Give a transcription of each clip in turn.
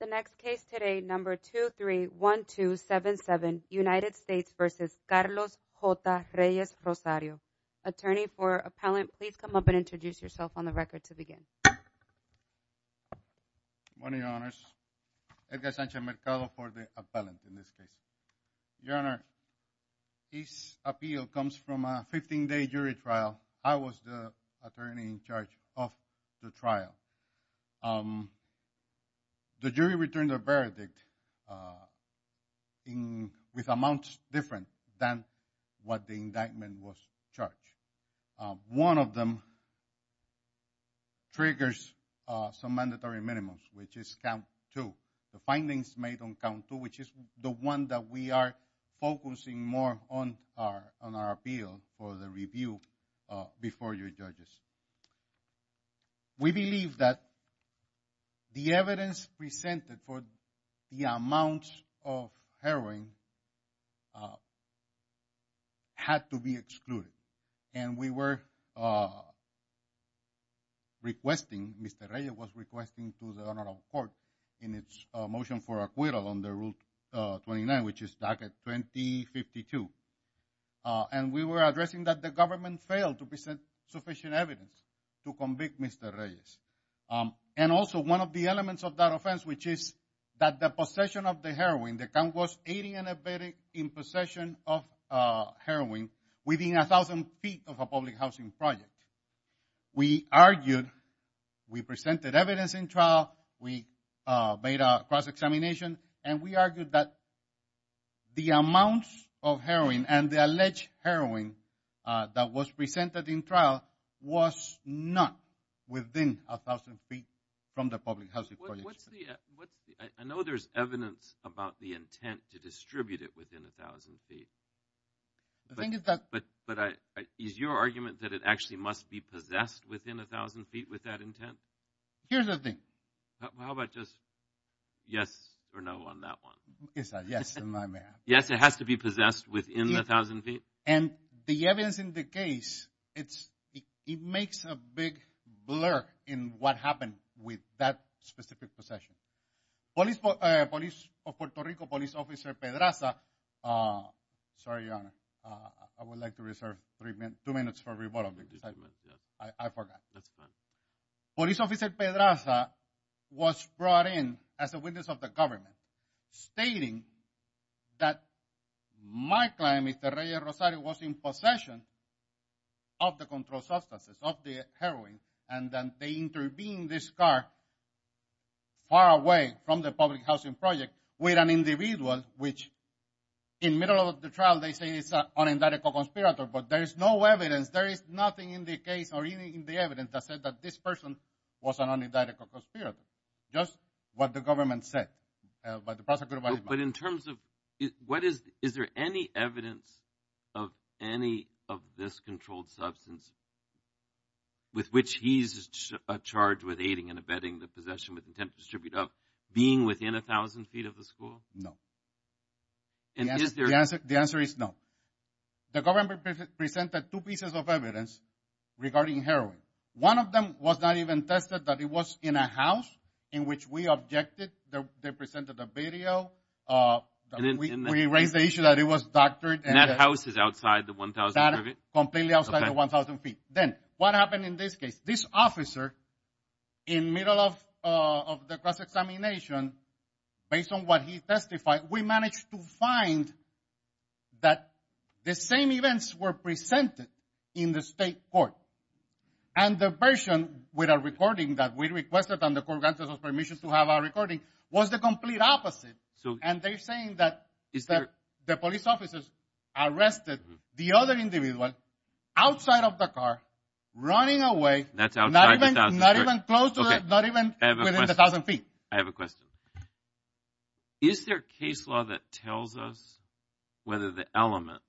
The next case today, number 231277, United States v. Carlos J. Reyes-Rosario. Attorney for appellant, please come up and introduce yourself on the record to begin. Good morning, Your Honors. Edgar Sanchez-Mercado for the appellant in this case. Your Honor, this appeal comes from a 15-day jury trial. I was the attorney in charge of the trial. The jury returned a verdict with amounts different than what the indictment was charged. One of them triggers some mandatory minimums, which is count two. The findings made on count two, which is the one that we are focusing more on our appeal for the review before your judges. We believe that the evidence presented for the amounts of heroin had to be excluded. And we were requesting, Mr. Reyes was requesting to the Honorable Court in its motion for acquittal under Rule 29, which is docket 2052. And we were addressing that the failed to present sufficient evidence to convict Mr. Reyes. And also one of the elements of that offense, which is that the possession of the heroin, the count was 80 and a bit in possession of heroin within a thousand feet of a public housing project. We argued, we presented evidence in trial, we made a cross-examination, and we argued that the amounts of heroin and the alleged heroin that was presented in trial was not within a thousand feet from the public housing project. What's the, what's the, I know there's evidence about the intent to distribute it within a thousand feet. I think it's that. But, but I, is your argument that it actually must be possessed within a thousand feet with that intent? Here's the thing. How about just yes or no on that one? It's a yes. Yes, it has to be possessed within a thousand feet. And the evidence in the case, it's, it makes a big blur in what happened with that specific possession. Police, Police of Puerto Rico, Police Officer Pedraza, sorry Your Honor, I would like to reserve three minutes, two minutes for rebuttal. I forgot. Police Officer Pedraza was brought in as a witness of the stating that my client, Mr. Reyes Rosario, was in possession of the controlled substances, of the heroin, and then they intervened this car far away from the public housing project with an individual which, in middle of the trial, they say it's an un-indictical conspirator. But there is no evidence, there is nothing in the case or even in the evidence that said that this person was an un-indictical conspirator. But in terms of what is, is there any evidence of any of this controlled substance with which he's charged with aiding and abetting the possession with intent to distribute of being within a thousand feet of the school? No. And is there? The answer is no. The government presented two pieces of evidence regarding heroin. One of them was not even tested that it was in a in which we objected. They presented a video. We raised the issue that it was doctored. And that house is outside the 1,000? Completely outside the 1,000 feet. Then what happened in this case? This officer, in middle of the cross-examination, based on what he testified, we managed to find that the same events were presented in the state court. And the version with a recording that we requested on the court grounds of permission to have a recording was the complete opposite. And they're saying that the police officers arrested the other individual outside of the car, running away. That's outside the 1,000? Not even close to, not even within the 1,000 feet. I have a question. Is there a case law that tells us whether the element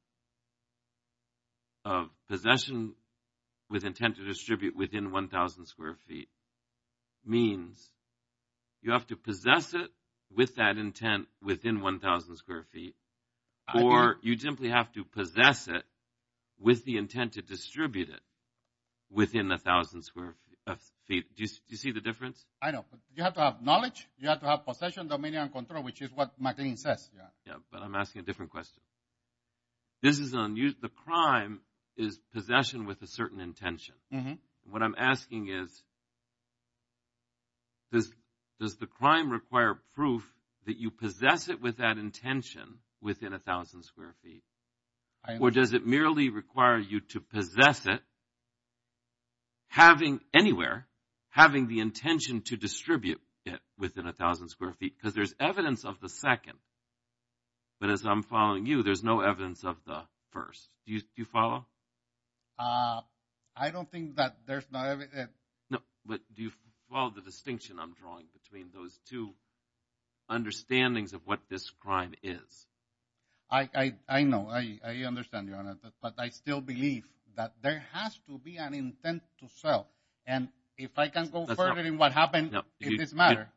of possession with intent to distribute within 1,000 square feet means you have to possess it with that intent within 1,000 square feet, or you simply have to possess it with the intent to distribute it within 1,000 square feet? Do you see the difference? I know, but you have to have knowledge. You have to have possession, dominion, and control, which is what McLean says. Yeah, but I'm asking a different question. The crime is possession with a certain intention. What I'm asking is, does the crime require proof that you possess it with that intention within 1,000 square feet? Or does it merely require you to possess it, having anywhere, having the intention to distribute it within 1,000 square feet? Because there's evidence of the second, but as I'm following you, there's no evidence of the first. Do you follow? I don't think that there's not evidence. No, but do you follow the distinction I'm drawing between those two understandings of what this crime is? I know. I understand, but I still believe that there has to be an intent to sell, and if I can't go further in what happened, it doesn't matter.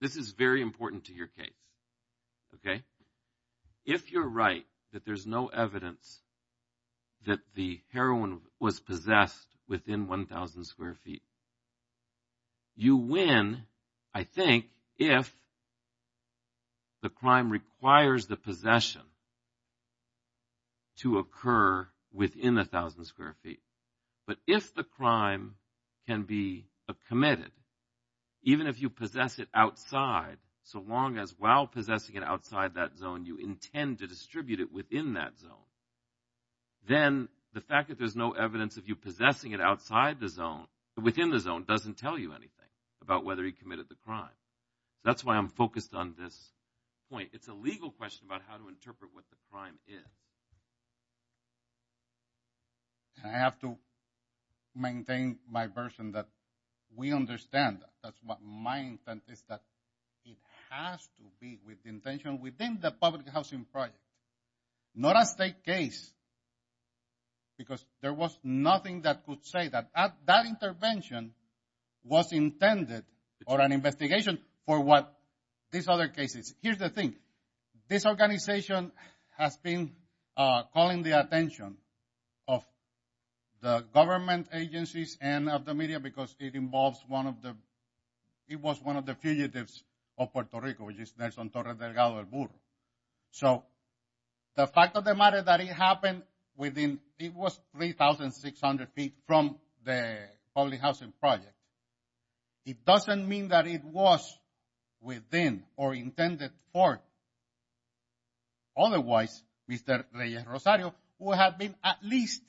This is very important to your case. If you're right that there's no evidence that the heroin was possessed within 1,000 square feet, you win, I think, if the crime requires the possession to occur within 1,000 square feet. But if the crime can be committed, even if you possess it outside, so long as while possessing it outside that zone, you intend to distribute it within that zone, then the fact that there's no evidence of you possessing it outside the zone, within the zone, doesn't tell you anything about whether he committed the crime. That's why I'm focused on this point. It's a legal question about how to interpret what the crime is. I have to maintain my version that we understand. That's what my intent is, that it has to be with the intention within the public housing project, not a state case, because there was nothing that could say that that intervention was intended or an investigation for what these other cases. Here's the thing. This organization has been calling the attention of the government agencies and of the media because it involves one of the, it was one of the fugitives of Puerto Rico, which is Nelson Torres Delgado, El Burro. So the fact of the matter that it happened within, it was 3,600 feet from the public housing project, it doesn't mean that it was within or intended for. Otherwise, Mr. Reyes-Rosario would have been at least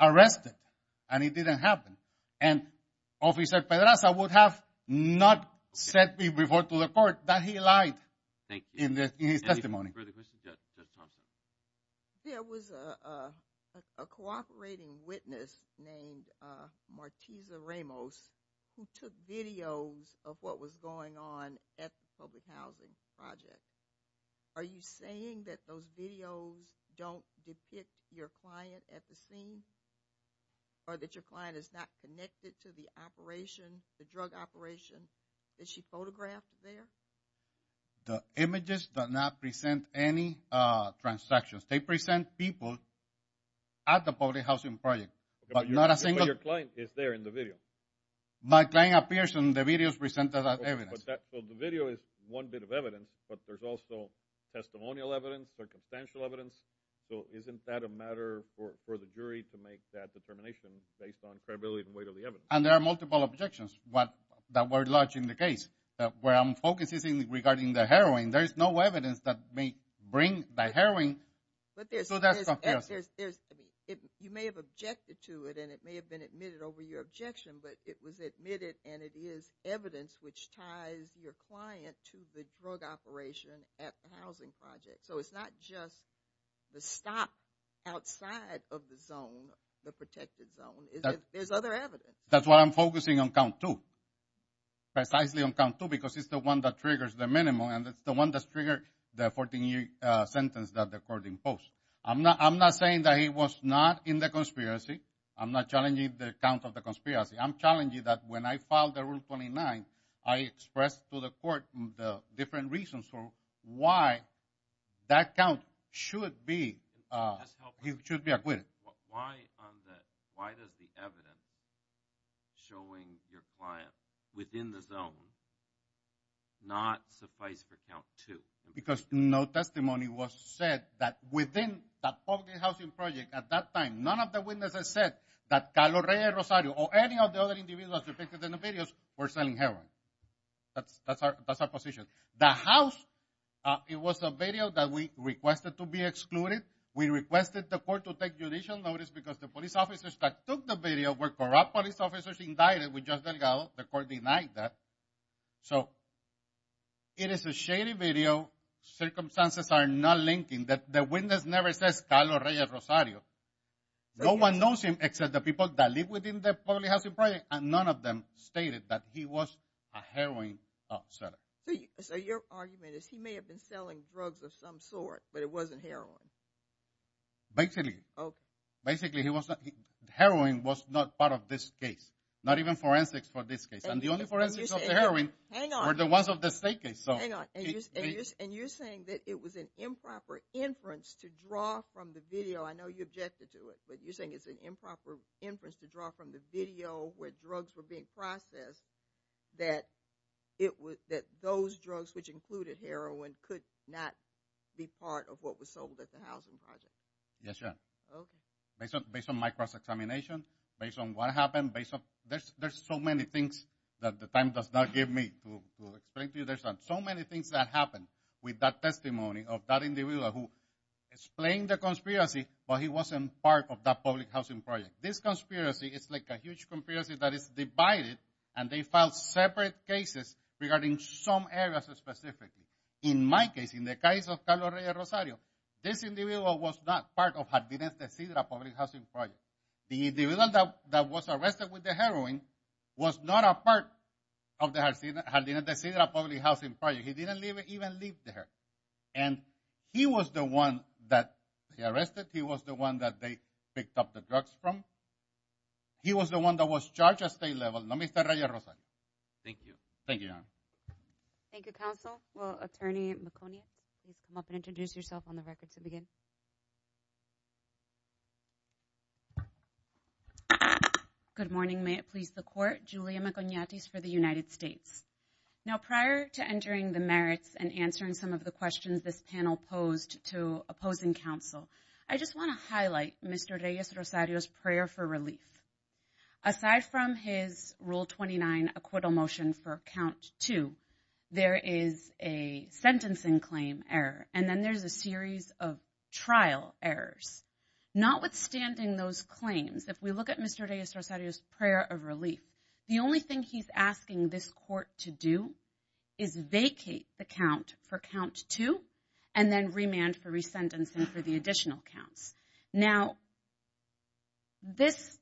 arrested and it didn't happen. And Officer Pedraza would have not said before to the court that he lied in his testimony. There was a cooperating witness named Martiza Ramos who took videos of what was going on at the public housing project. Are you saying that those videos don't depict your client at the scene or that your client is not connected to the operation, the drug operation that she photographed there? The images do not present any transactions. They present people at the public housing project, but not a single... But your client is there in the video. My client appears in the videos presented as evidence. So the video is one bit of evidence, but there's also testimonial evidence, circumstantial evidence. So isn't that a matter for the jury to make that determination based on credibility and weight of the evidence? And there are multiple objections that were lodged in the case. Where I'm focusing regarding the heroin, there is no evidence that may bring the heroin. So that's confusing. You may have objected to it and it may have been admitted over your objection, but it was admitted and it is evidence which ties your client to the drug operation at the housing project. So it's not just the stop outside of the zone, the protected zone. There's other evidence. That's why I'm focusing on count two, precisely on count two, because it's the one that triggers the minimum and it's the one that's triggered the 14-year sentence that the court imposed. I'm not saying that he was not in the conspiracy. I'm not challenging the count of the conspiracy. I'm challenging that when I filed the Rule 29, I expressed to the court the different reasons for why that count should be... He should be acquitted. Why does the evidence showing your client within the zone not suffice for count two? Because no testimony was said that within that public housing project at that time. None of the witnesses said that Calorrea Rosario or any of the other individuals depicted in the videos were selling heroin. That's our position. The house, it was a video that we requested to be excluded. We requested the court to take judicial notice because the police officers that took the video were corrupt police officers indicted. We just so it is a shady video. Circumstances are not linking that the witness never says Calorrea Rosario. No one knows him except the people that live within the public housing project and none of them stated that he was a heroin offsetter. So your argument is he may have been selling drugs of some sort, but it wasn't heroin. Basically. Okay. Basically, heroin was not part of this case, not even forensics for this case. And the only forensics of the heroin were the ones of the state case. And you're saying that it was an improper inference to draw from the video. I know you objected to it, but you're saying it's an improper inference to draw from the video where drugs were being processed, that it was that those drugs, which included heroin, could not be part of what was sold at the housing project. Yes, ma'am. Okay. Based on my cross examination, based on what happened, based on there's so many things that the time does not give me to explain to you. There's so many things that happened with that testimony of that individual who explained the conspiracy, but he wasn't part of that public housing project. This conspiracy is like a huge conspiracy that is divided and they filed separate cases regarding some areas specifically. In my case, in the case of Calorrea Rosario, this individual was not part of the public housing project. The individual that was arrested with the heroin was not a part of the public housing project. He didn't even leave there. And he was the one that he arrested. He was the one that they picked up the drugs from. He was the one that was charged at state level. Thank you. Thank you, Your Honor. Thank you, counsel. Well, thank you. Good morning. May it please the court, Julia Maconiatis for the United States. Now, prior to entering the merits and answering some of the questions this panel posed to opposing counsel, I just want to highlight Mr. Reyes Rosario's prayer for relief. Aside from his Rule 29 acquittal motion for count two, there is a sentencing claim error. And then there's a series of trial errors. Notwithstanding those claims, if we look at Mr. Reyes Rosario's prayer of relief, the only thing he's asking this court to do is vacate the count for count two and then remand for resentence and for the additional counts. Now, this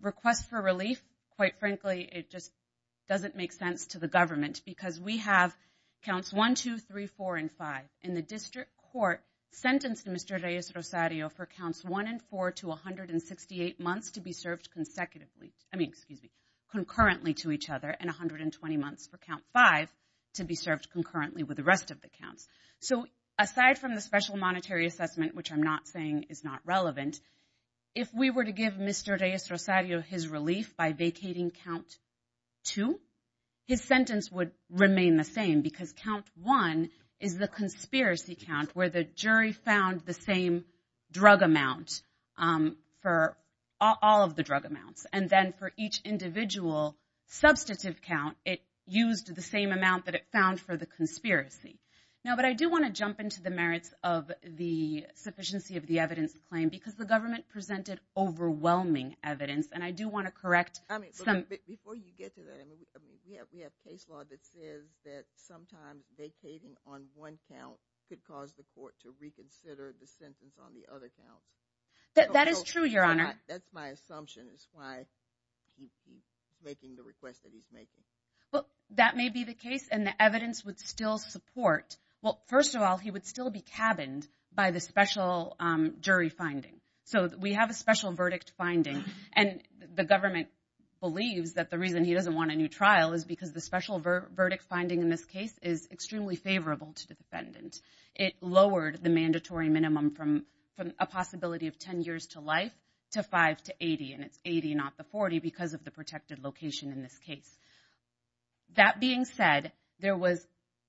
request for relief, quite frankly, it just doesn't make sense to the government because we have counts one, two, three, four, and five. And the district court sentenced Mr. Reyes Rosario for counts one and four to 168 months to be served consecutively. I mean, excuse me, concurrently to each other and 120 months for count five to be served concurrently with the rest of the counts. So aside from the special monetary assessment, which I'm not saying is not relevant, if we were to give Mr. Reyes Rosario his relief by vacating count two, his sentence would remain the same because count one is the conspiracy count where the jury found the same drug amount for all of the drug amounts. And then for each individual substantive count, it used the same amount that it found for the conspiracy. Now, but I do want to jump into the merits of the sufficiency of the evidence claim because the presented overwhelming evidence. And I do want to correct some... I mean, before you get to that, I mean, we have case law that says that sometimes vacating on one count could cause the court to reconsider the sentence on the other counts. That is true, Your Honor. That's my assumption is why he's making the request that he's making. Well, that may be the case and the evidence would still support. Well, first of all, he would still be cabined by the special jury finding. So we have a special verdict finding and the government believes that the reason he doesn't want a new trial is because the special verdict finding in this case is extremely favorable to the defendant. It lowered the mandatory minimum from a possibility of 10 years to life to five to 80. And it's 80, not the 40 because of the protected location in this case. That being said, there was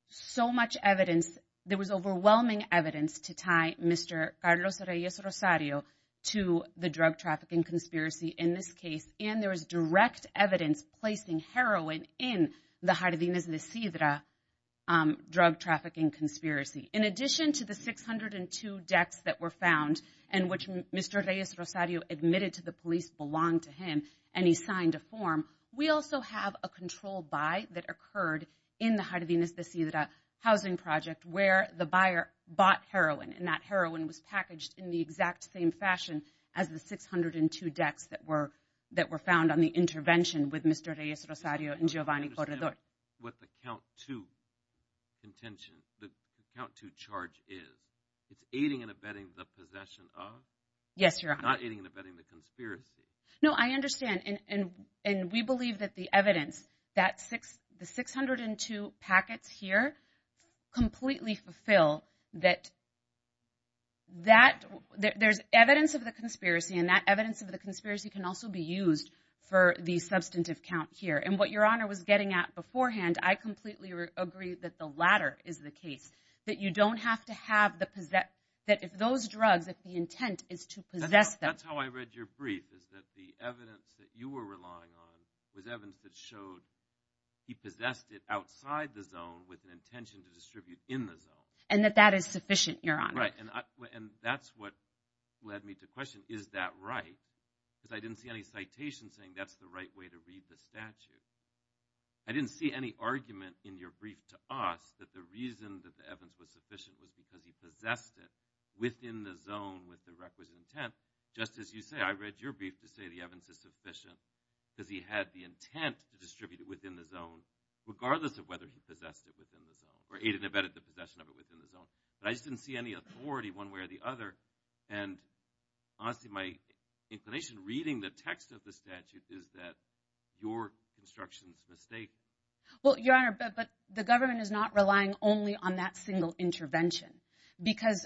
so much evidence. There was overwhelming evidence to tie Mr. Carlos Reyes Rosario to the drug trafficking conspiracy in this case. And there was direct evidence placing heroin in the Jardines de Sidra drug trafficking conspiracy. In addition to the 602 decks that were found and which Mr. Reyes Rosario admitted to the police belonged to him and he signed a form, we also have a controlled buy that occurred in the Jardines de Sidra housing project where the buyer bought heroin and that heroin was packaged in the exact same fashion as the 602 decks that were found on the intervention with Mr. Reyes Rosario and Giovanni Corredor. With the count two contention, the count two charge is, it's aiding and abetting the possession of? Yes, Your Honor. Not aiding and abetting the conspiracy. No, I understand. And we believe that the evidence, that 602 packets here completely fulfill that there's evidence of the conspiracy and that evidence of the conspiracy can also be used for the substantive count here. And what Your Honor was getting at beforehand, I completely agree that the latter is the case, that you don't have to have the possess, that if those drugs, if the intent is to possess them. That's how I read your brief is that the evidence that you were relying on was evidence that showed he possessed it outside the zone with an intention to distribute in the zone. And that that is sufficient, Your Honor. Right, and that's what led me to question, is that right? Because I didn't see any citation saying that's the right way to read the statute. I didn't see any argument in your brief to us that the reason that the evidence was sufficient was because he possessed it within the zone with the requisite intent. Just as you say, I read your brief to say the evidence is sufficient because he had the intent to distribute it within the zone regardless of whether he possessed it within the zone or aided and abetted the possession of it within the zone. But I just didn't see any authority one way or the other. And honestly, my inclination reading the text of the statute is that your construction's mistake. Well, Your Honor, but the government is not relying only on that single intervention. Because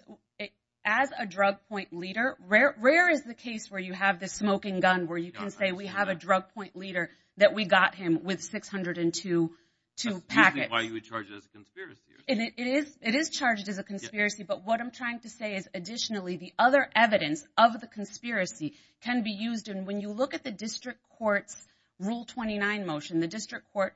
as a drug point leader, rare is the case where you have the smoking gun where you can say we have a drug point leader that we got him with 602 packets. That's usually why you would charge it as a conspiracy. It is charged as a conspiracy, but what I'm trying to say is additionally, the other evidence of the conspiracy can be used. When you look at the district court's Rule 29 motion, the district court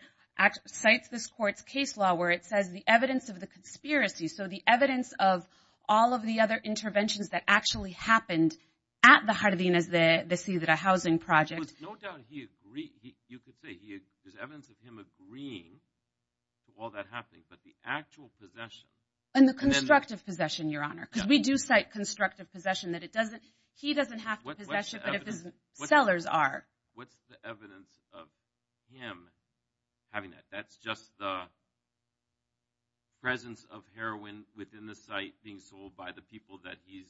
cites this court's case law where it says the evidence of the conspiracy, so the evidence of all of the other interventions that actually happened at the Jardines de la Ciudad Housing Project. There's evidence of him agreeing to all that happening, but the actual possession. And the constructive possession, Your Honor, because we do cite constructive possession. He doesn't have to possess it, but if his sellers are. What's the evidence of him having that? That's just the presence of heroin within the site being sold by the people that he's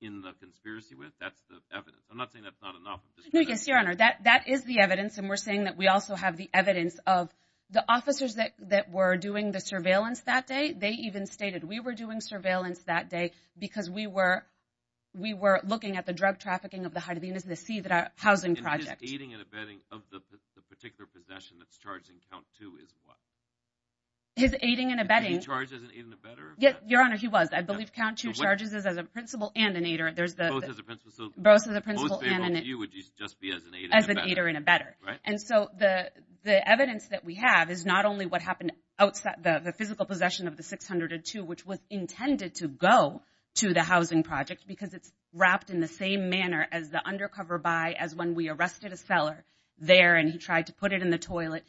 in the conspiracy with? That's the evidence. I'm not saying that's not enough. Yes, Your Honor, that is the evidence. And we're saying that we also have the evidence of the officers that were doing the surveillance that day. They even stated we were doing surveillance that day because we were looking at the drug trafficking of the Jardines de la Ciudad Housing Project. And his aiding and abetting of the particular possession that's charged in count two is what? His aiding and abetting. Did he charge as an aid and abetter? Yes, Your Honor, he was. I believe count two charges as a principal and an aider. Both as a principal? Both as a principal and an aider. Most people view it just as an aid and abetter. As an aid and abetter. And so the evidence that we have is not only what happened outside the physical possession of the intended to go to the housing project because it's wrapped in the same manner as the undercover buy as when we arrested a seller there and he tried to put it in the toilet.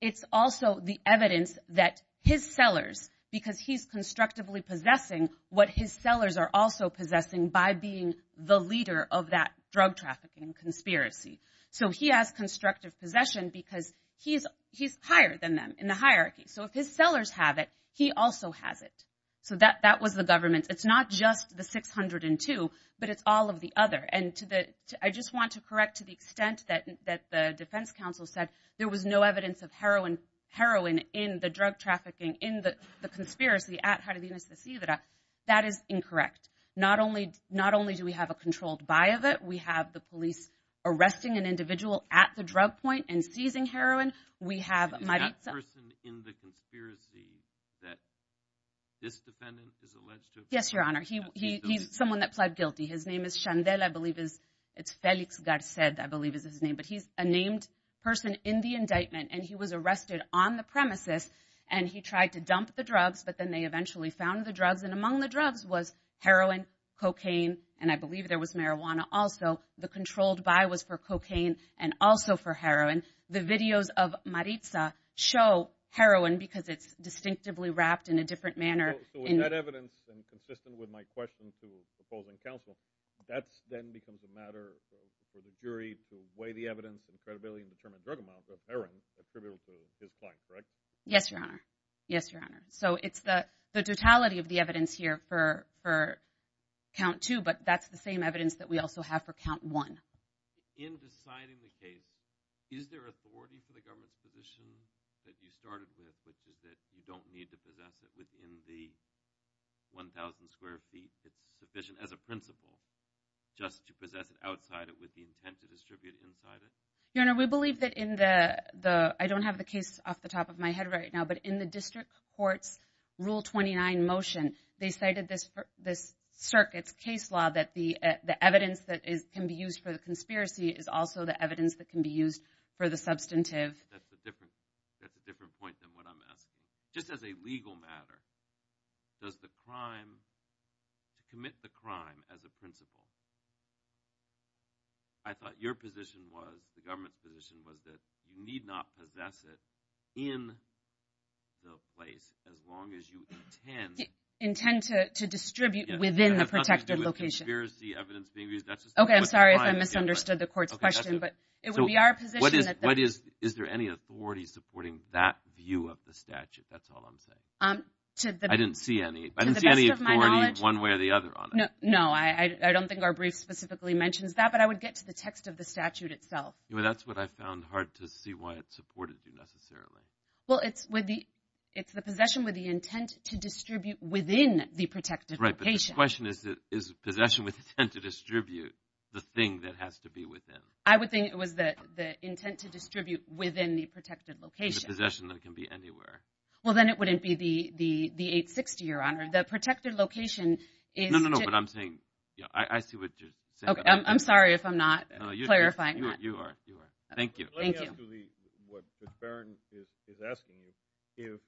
It's also the evidence that his sellers, because he's constructively possessing what his sellers are also possessing by being the leader of that drug trafficking conspiracy. So he has constructive possession because he's higher than them in the hierarchy. So if his sellers have it, he also has it. So that was the government. It's not just the 602, but it's all of the other. And I just want to correct to the extent that the defense counsel said there was no evidence of heroin in the drug trafficking in the conspiracy at Jardines de Cidra. That is incorrect. Not only do we have a controlled buy of it, we have the police arresting an individual at the drug point and seizing heroin. We have my person in the conspiracy that this defendant is alleged to. Yes, your honor. He he's someone that pled guilty. His name is Shandell. I believe is it's Felix Garcia. I believe is his name. But he's a named person in the indictment. And he was arrested on the premises and he tried to dump the drugs. But then they eventually found the drugs. And among the drugs was heroin, cocaine. And I believe there was marijuana. Also, the controlled buy was for cocaine and also for heroin. The videos of Maritza show heroin because it's distinctively wrapped in a different manner. So in that evidence and consistent with my question to the opposing counsel, that then becomes a matter for the jury to weigh the evidence and credibility and determine drug amounts of heroin attributed to his client, correct? Yes, your honor. Yes, your honor. So it's the totality of the evidence here for for count two, but that's the same evidence that we also have for count one. In deciding the case, is there authority for the government's position that you started with, which is that you don't need to possess it within the 1000 square feet? It's sufficient as a principle just to possess it outside it with the intent to distribute inside it. Your honor, we believe that in the the I don't have the case off the top of my head right now, but in the district court's rule 29 motion, they cited this this circuit's case law that the the evidence that is can be used for the conspiracy is also the evidence that can be used for the substantive. That's a different point than what I'm asking. Just as a legal matter, does the crime commit the crime as a principle? I thought your position was the government's was that you need not possess it in the place as long as you intend. Intend to distribute within the protected location. OK, I'm sorry if I misunderstood the court's question, but it would be our position. Is there any authority supporting that view of the statute? That's all I'm saying. I didn't see any. I didn't see any authority one way or the other. No, I don't think our brief specifically mentions that, but I would get to the text of the statute itself. Well, that's what I found hard to see why it supported you necessarily. Well, it's with the it's the possession with the intent to distribute within the protected right. But the question is, is possession with intent to distribute the thing that has to be within? I would think it was that the intent to distribute within the protected location possession that can be anywhere. Well, then it wouldn't be the the the 860, your honor. The protected location is. No, no, no. But I'm saying I see what you're saying. I'm sorry if I'm not clarifying. You are. You are. Thank you. Thank you. What Baron is asking is if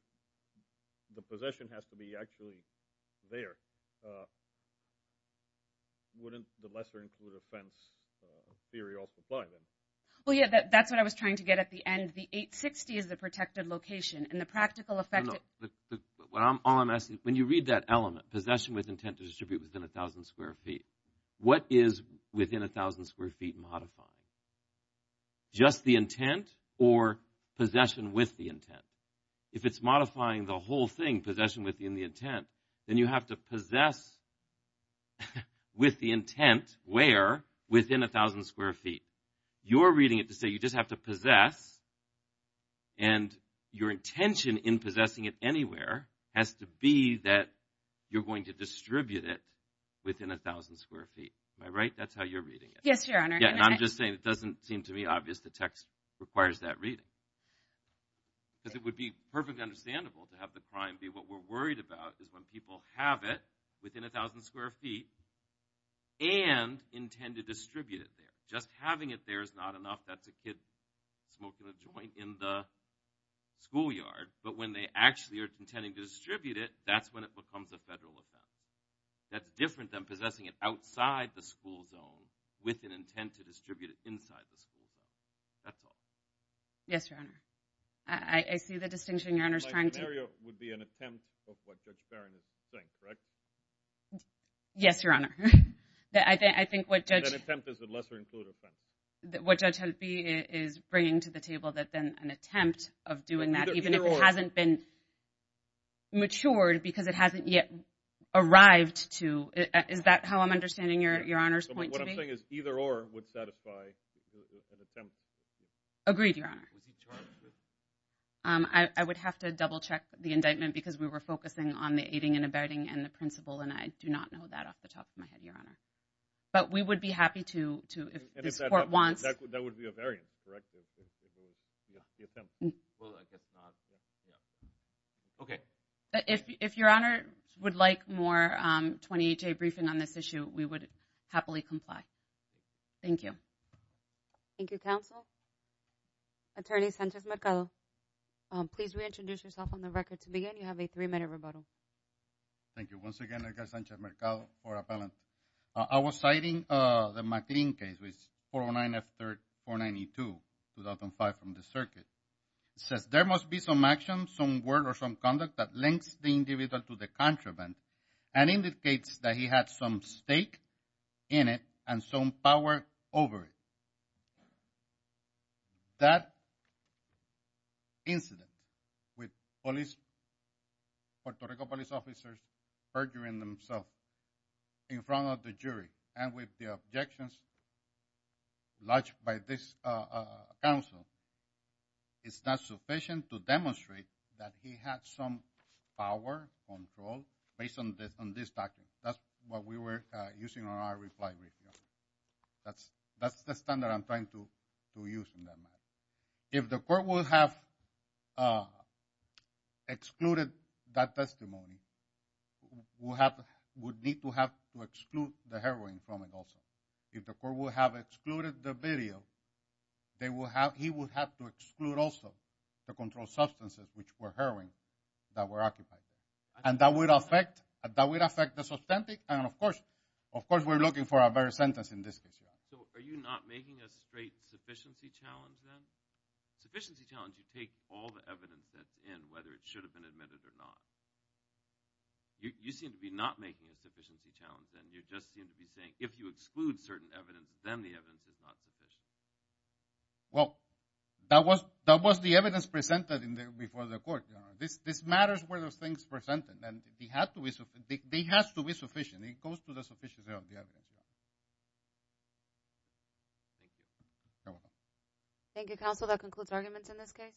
the possession has to be actually there. Wouldn't the lesser included offense theory also apply then? Well, yeah, that's what I was trying to get at the end. The 860 is the protected location and the practical effect. What I'm all I'm asking when you read that element possession with intent to distribute within a thousand square feet. What is within a thousand square feet modified? Just the intent or possession with the intent. If it's modifying the whole thing, possession within the intent, then you have to possess with the intent where within a thousand square feet. You're reading it to say you just have to possess. And your intention in possessing it anywhere has to be that you're going to distribute it within a thousand square feet. Am I right? That's how you're reading it. Yes, Your Honor. I'm just saying it doesn't seem to me obvious the text requires that reading. Because it would be perfectly understandable to have the crime be what we're worried about is when people have it within a thousand square feet and intend to distribute it there. Just having it there is not enough. That's a kid smoking a joint in the schoolyard. But when they actually are intending to distribute it, that's when it becomes a federal offense. That's different than possessing it outside the school zone with an intent to distribute it inside the school zone. That's all. Yes, Your Honor. I see the distinction Your Honor is trying to... My scenario would be an attempt of what Judge Barron is saying, correct? Yes, Your Honor. I think what Judge... That attempt is a lesser-included offense. What Judge Halbi is bringing to the table that then an attempt of doing that, even if it hasn't been matured because it hasn't yet arrived to... Is that how I'm understanding Your Honor's point to me? What I'm saying is either or would satisfy an attempt. Agreed, Your Honor. I would have to double-check the indictment because we were focusing on the aiding and abetting and the principal, and I do not know that off the top of my head, Your Honor. But we would be happy to, if this court wants... That would be a variant, correct? Yeah, the attempt will, I guess, not... Okay. If Your Honor would like more 28-day briefing on this issue, we would happily comply. Thank you. Thank you, counsel. Attorney Sanchez-Mercado, please reintroduce yourself on the record to begin. You have a three-minute rebuttal. Thank you once again, Edgar Sanchez-Mercado for appellant. I was citing the McLean case, 409 F-392, 2005 from the circuit. It says, there must be some action, some word or some conduct that links the individual to the contraband and indicates that he had some stake in it and some power over it. Now, that incident with police, Puerto Rico police officers perjuring themselves in front of the jury and with the objections lodged by this counsel, it's not sufficient to demonstrate that he had some power, control based on this document. That's what we were using on our reply brief. That's the standard I'm trying to use in that matter. If the court would have excluded that testimony, would need to have to exclude the heroin from it also. If the court would have excluded the video, they will have, he would have to exclude also the controlled substances which were heroin that were occupied. And that would affect, that would affect the substantive and of course, of course we're looking for a better sentence in this case. So are you not making a straight sufficiency challenge then? Sufficiency challenge, you take all the evidence that's in, whether it should have been admitted or not. You seem to be not making a sufficiency challenge then. You just seem to be saying, if you exclude certain evidence, then the evidence is not sufficient. Well, that was, that was the evidence presented in there before the court. This, this matters where those things presented and they have to be, they have to be sufficient. It goes to the sufficiency of the evidence. Thank you, counsel. That concludes arguments in this case.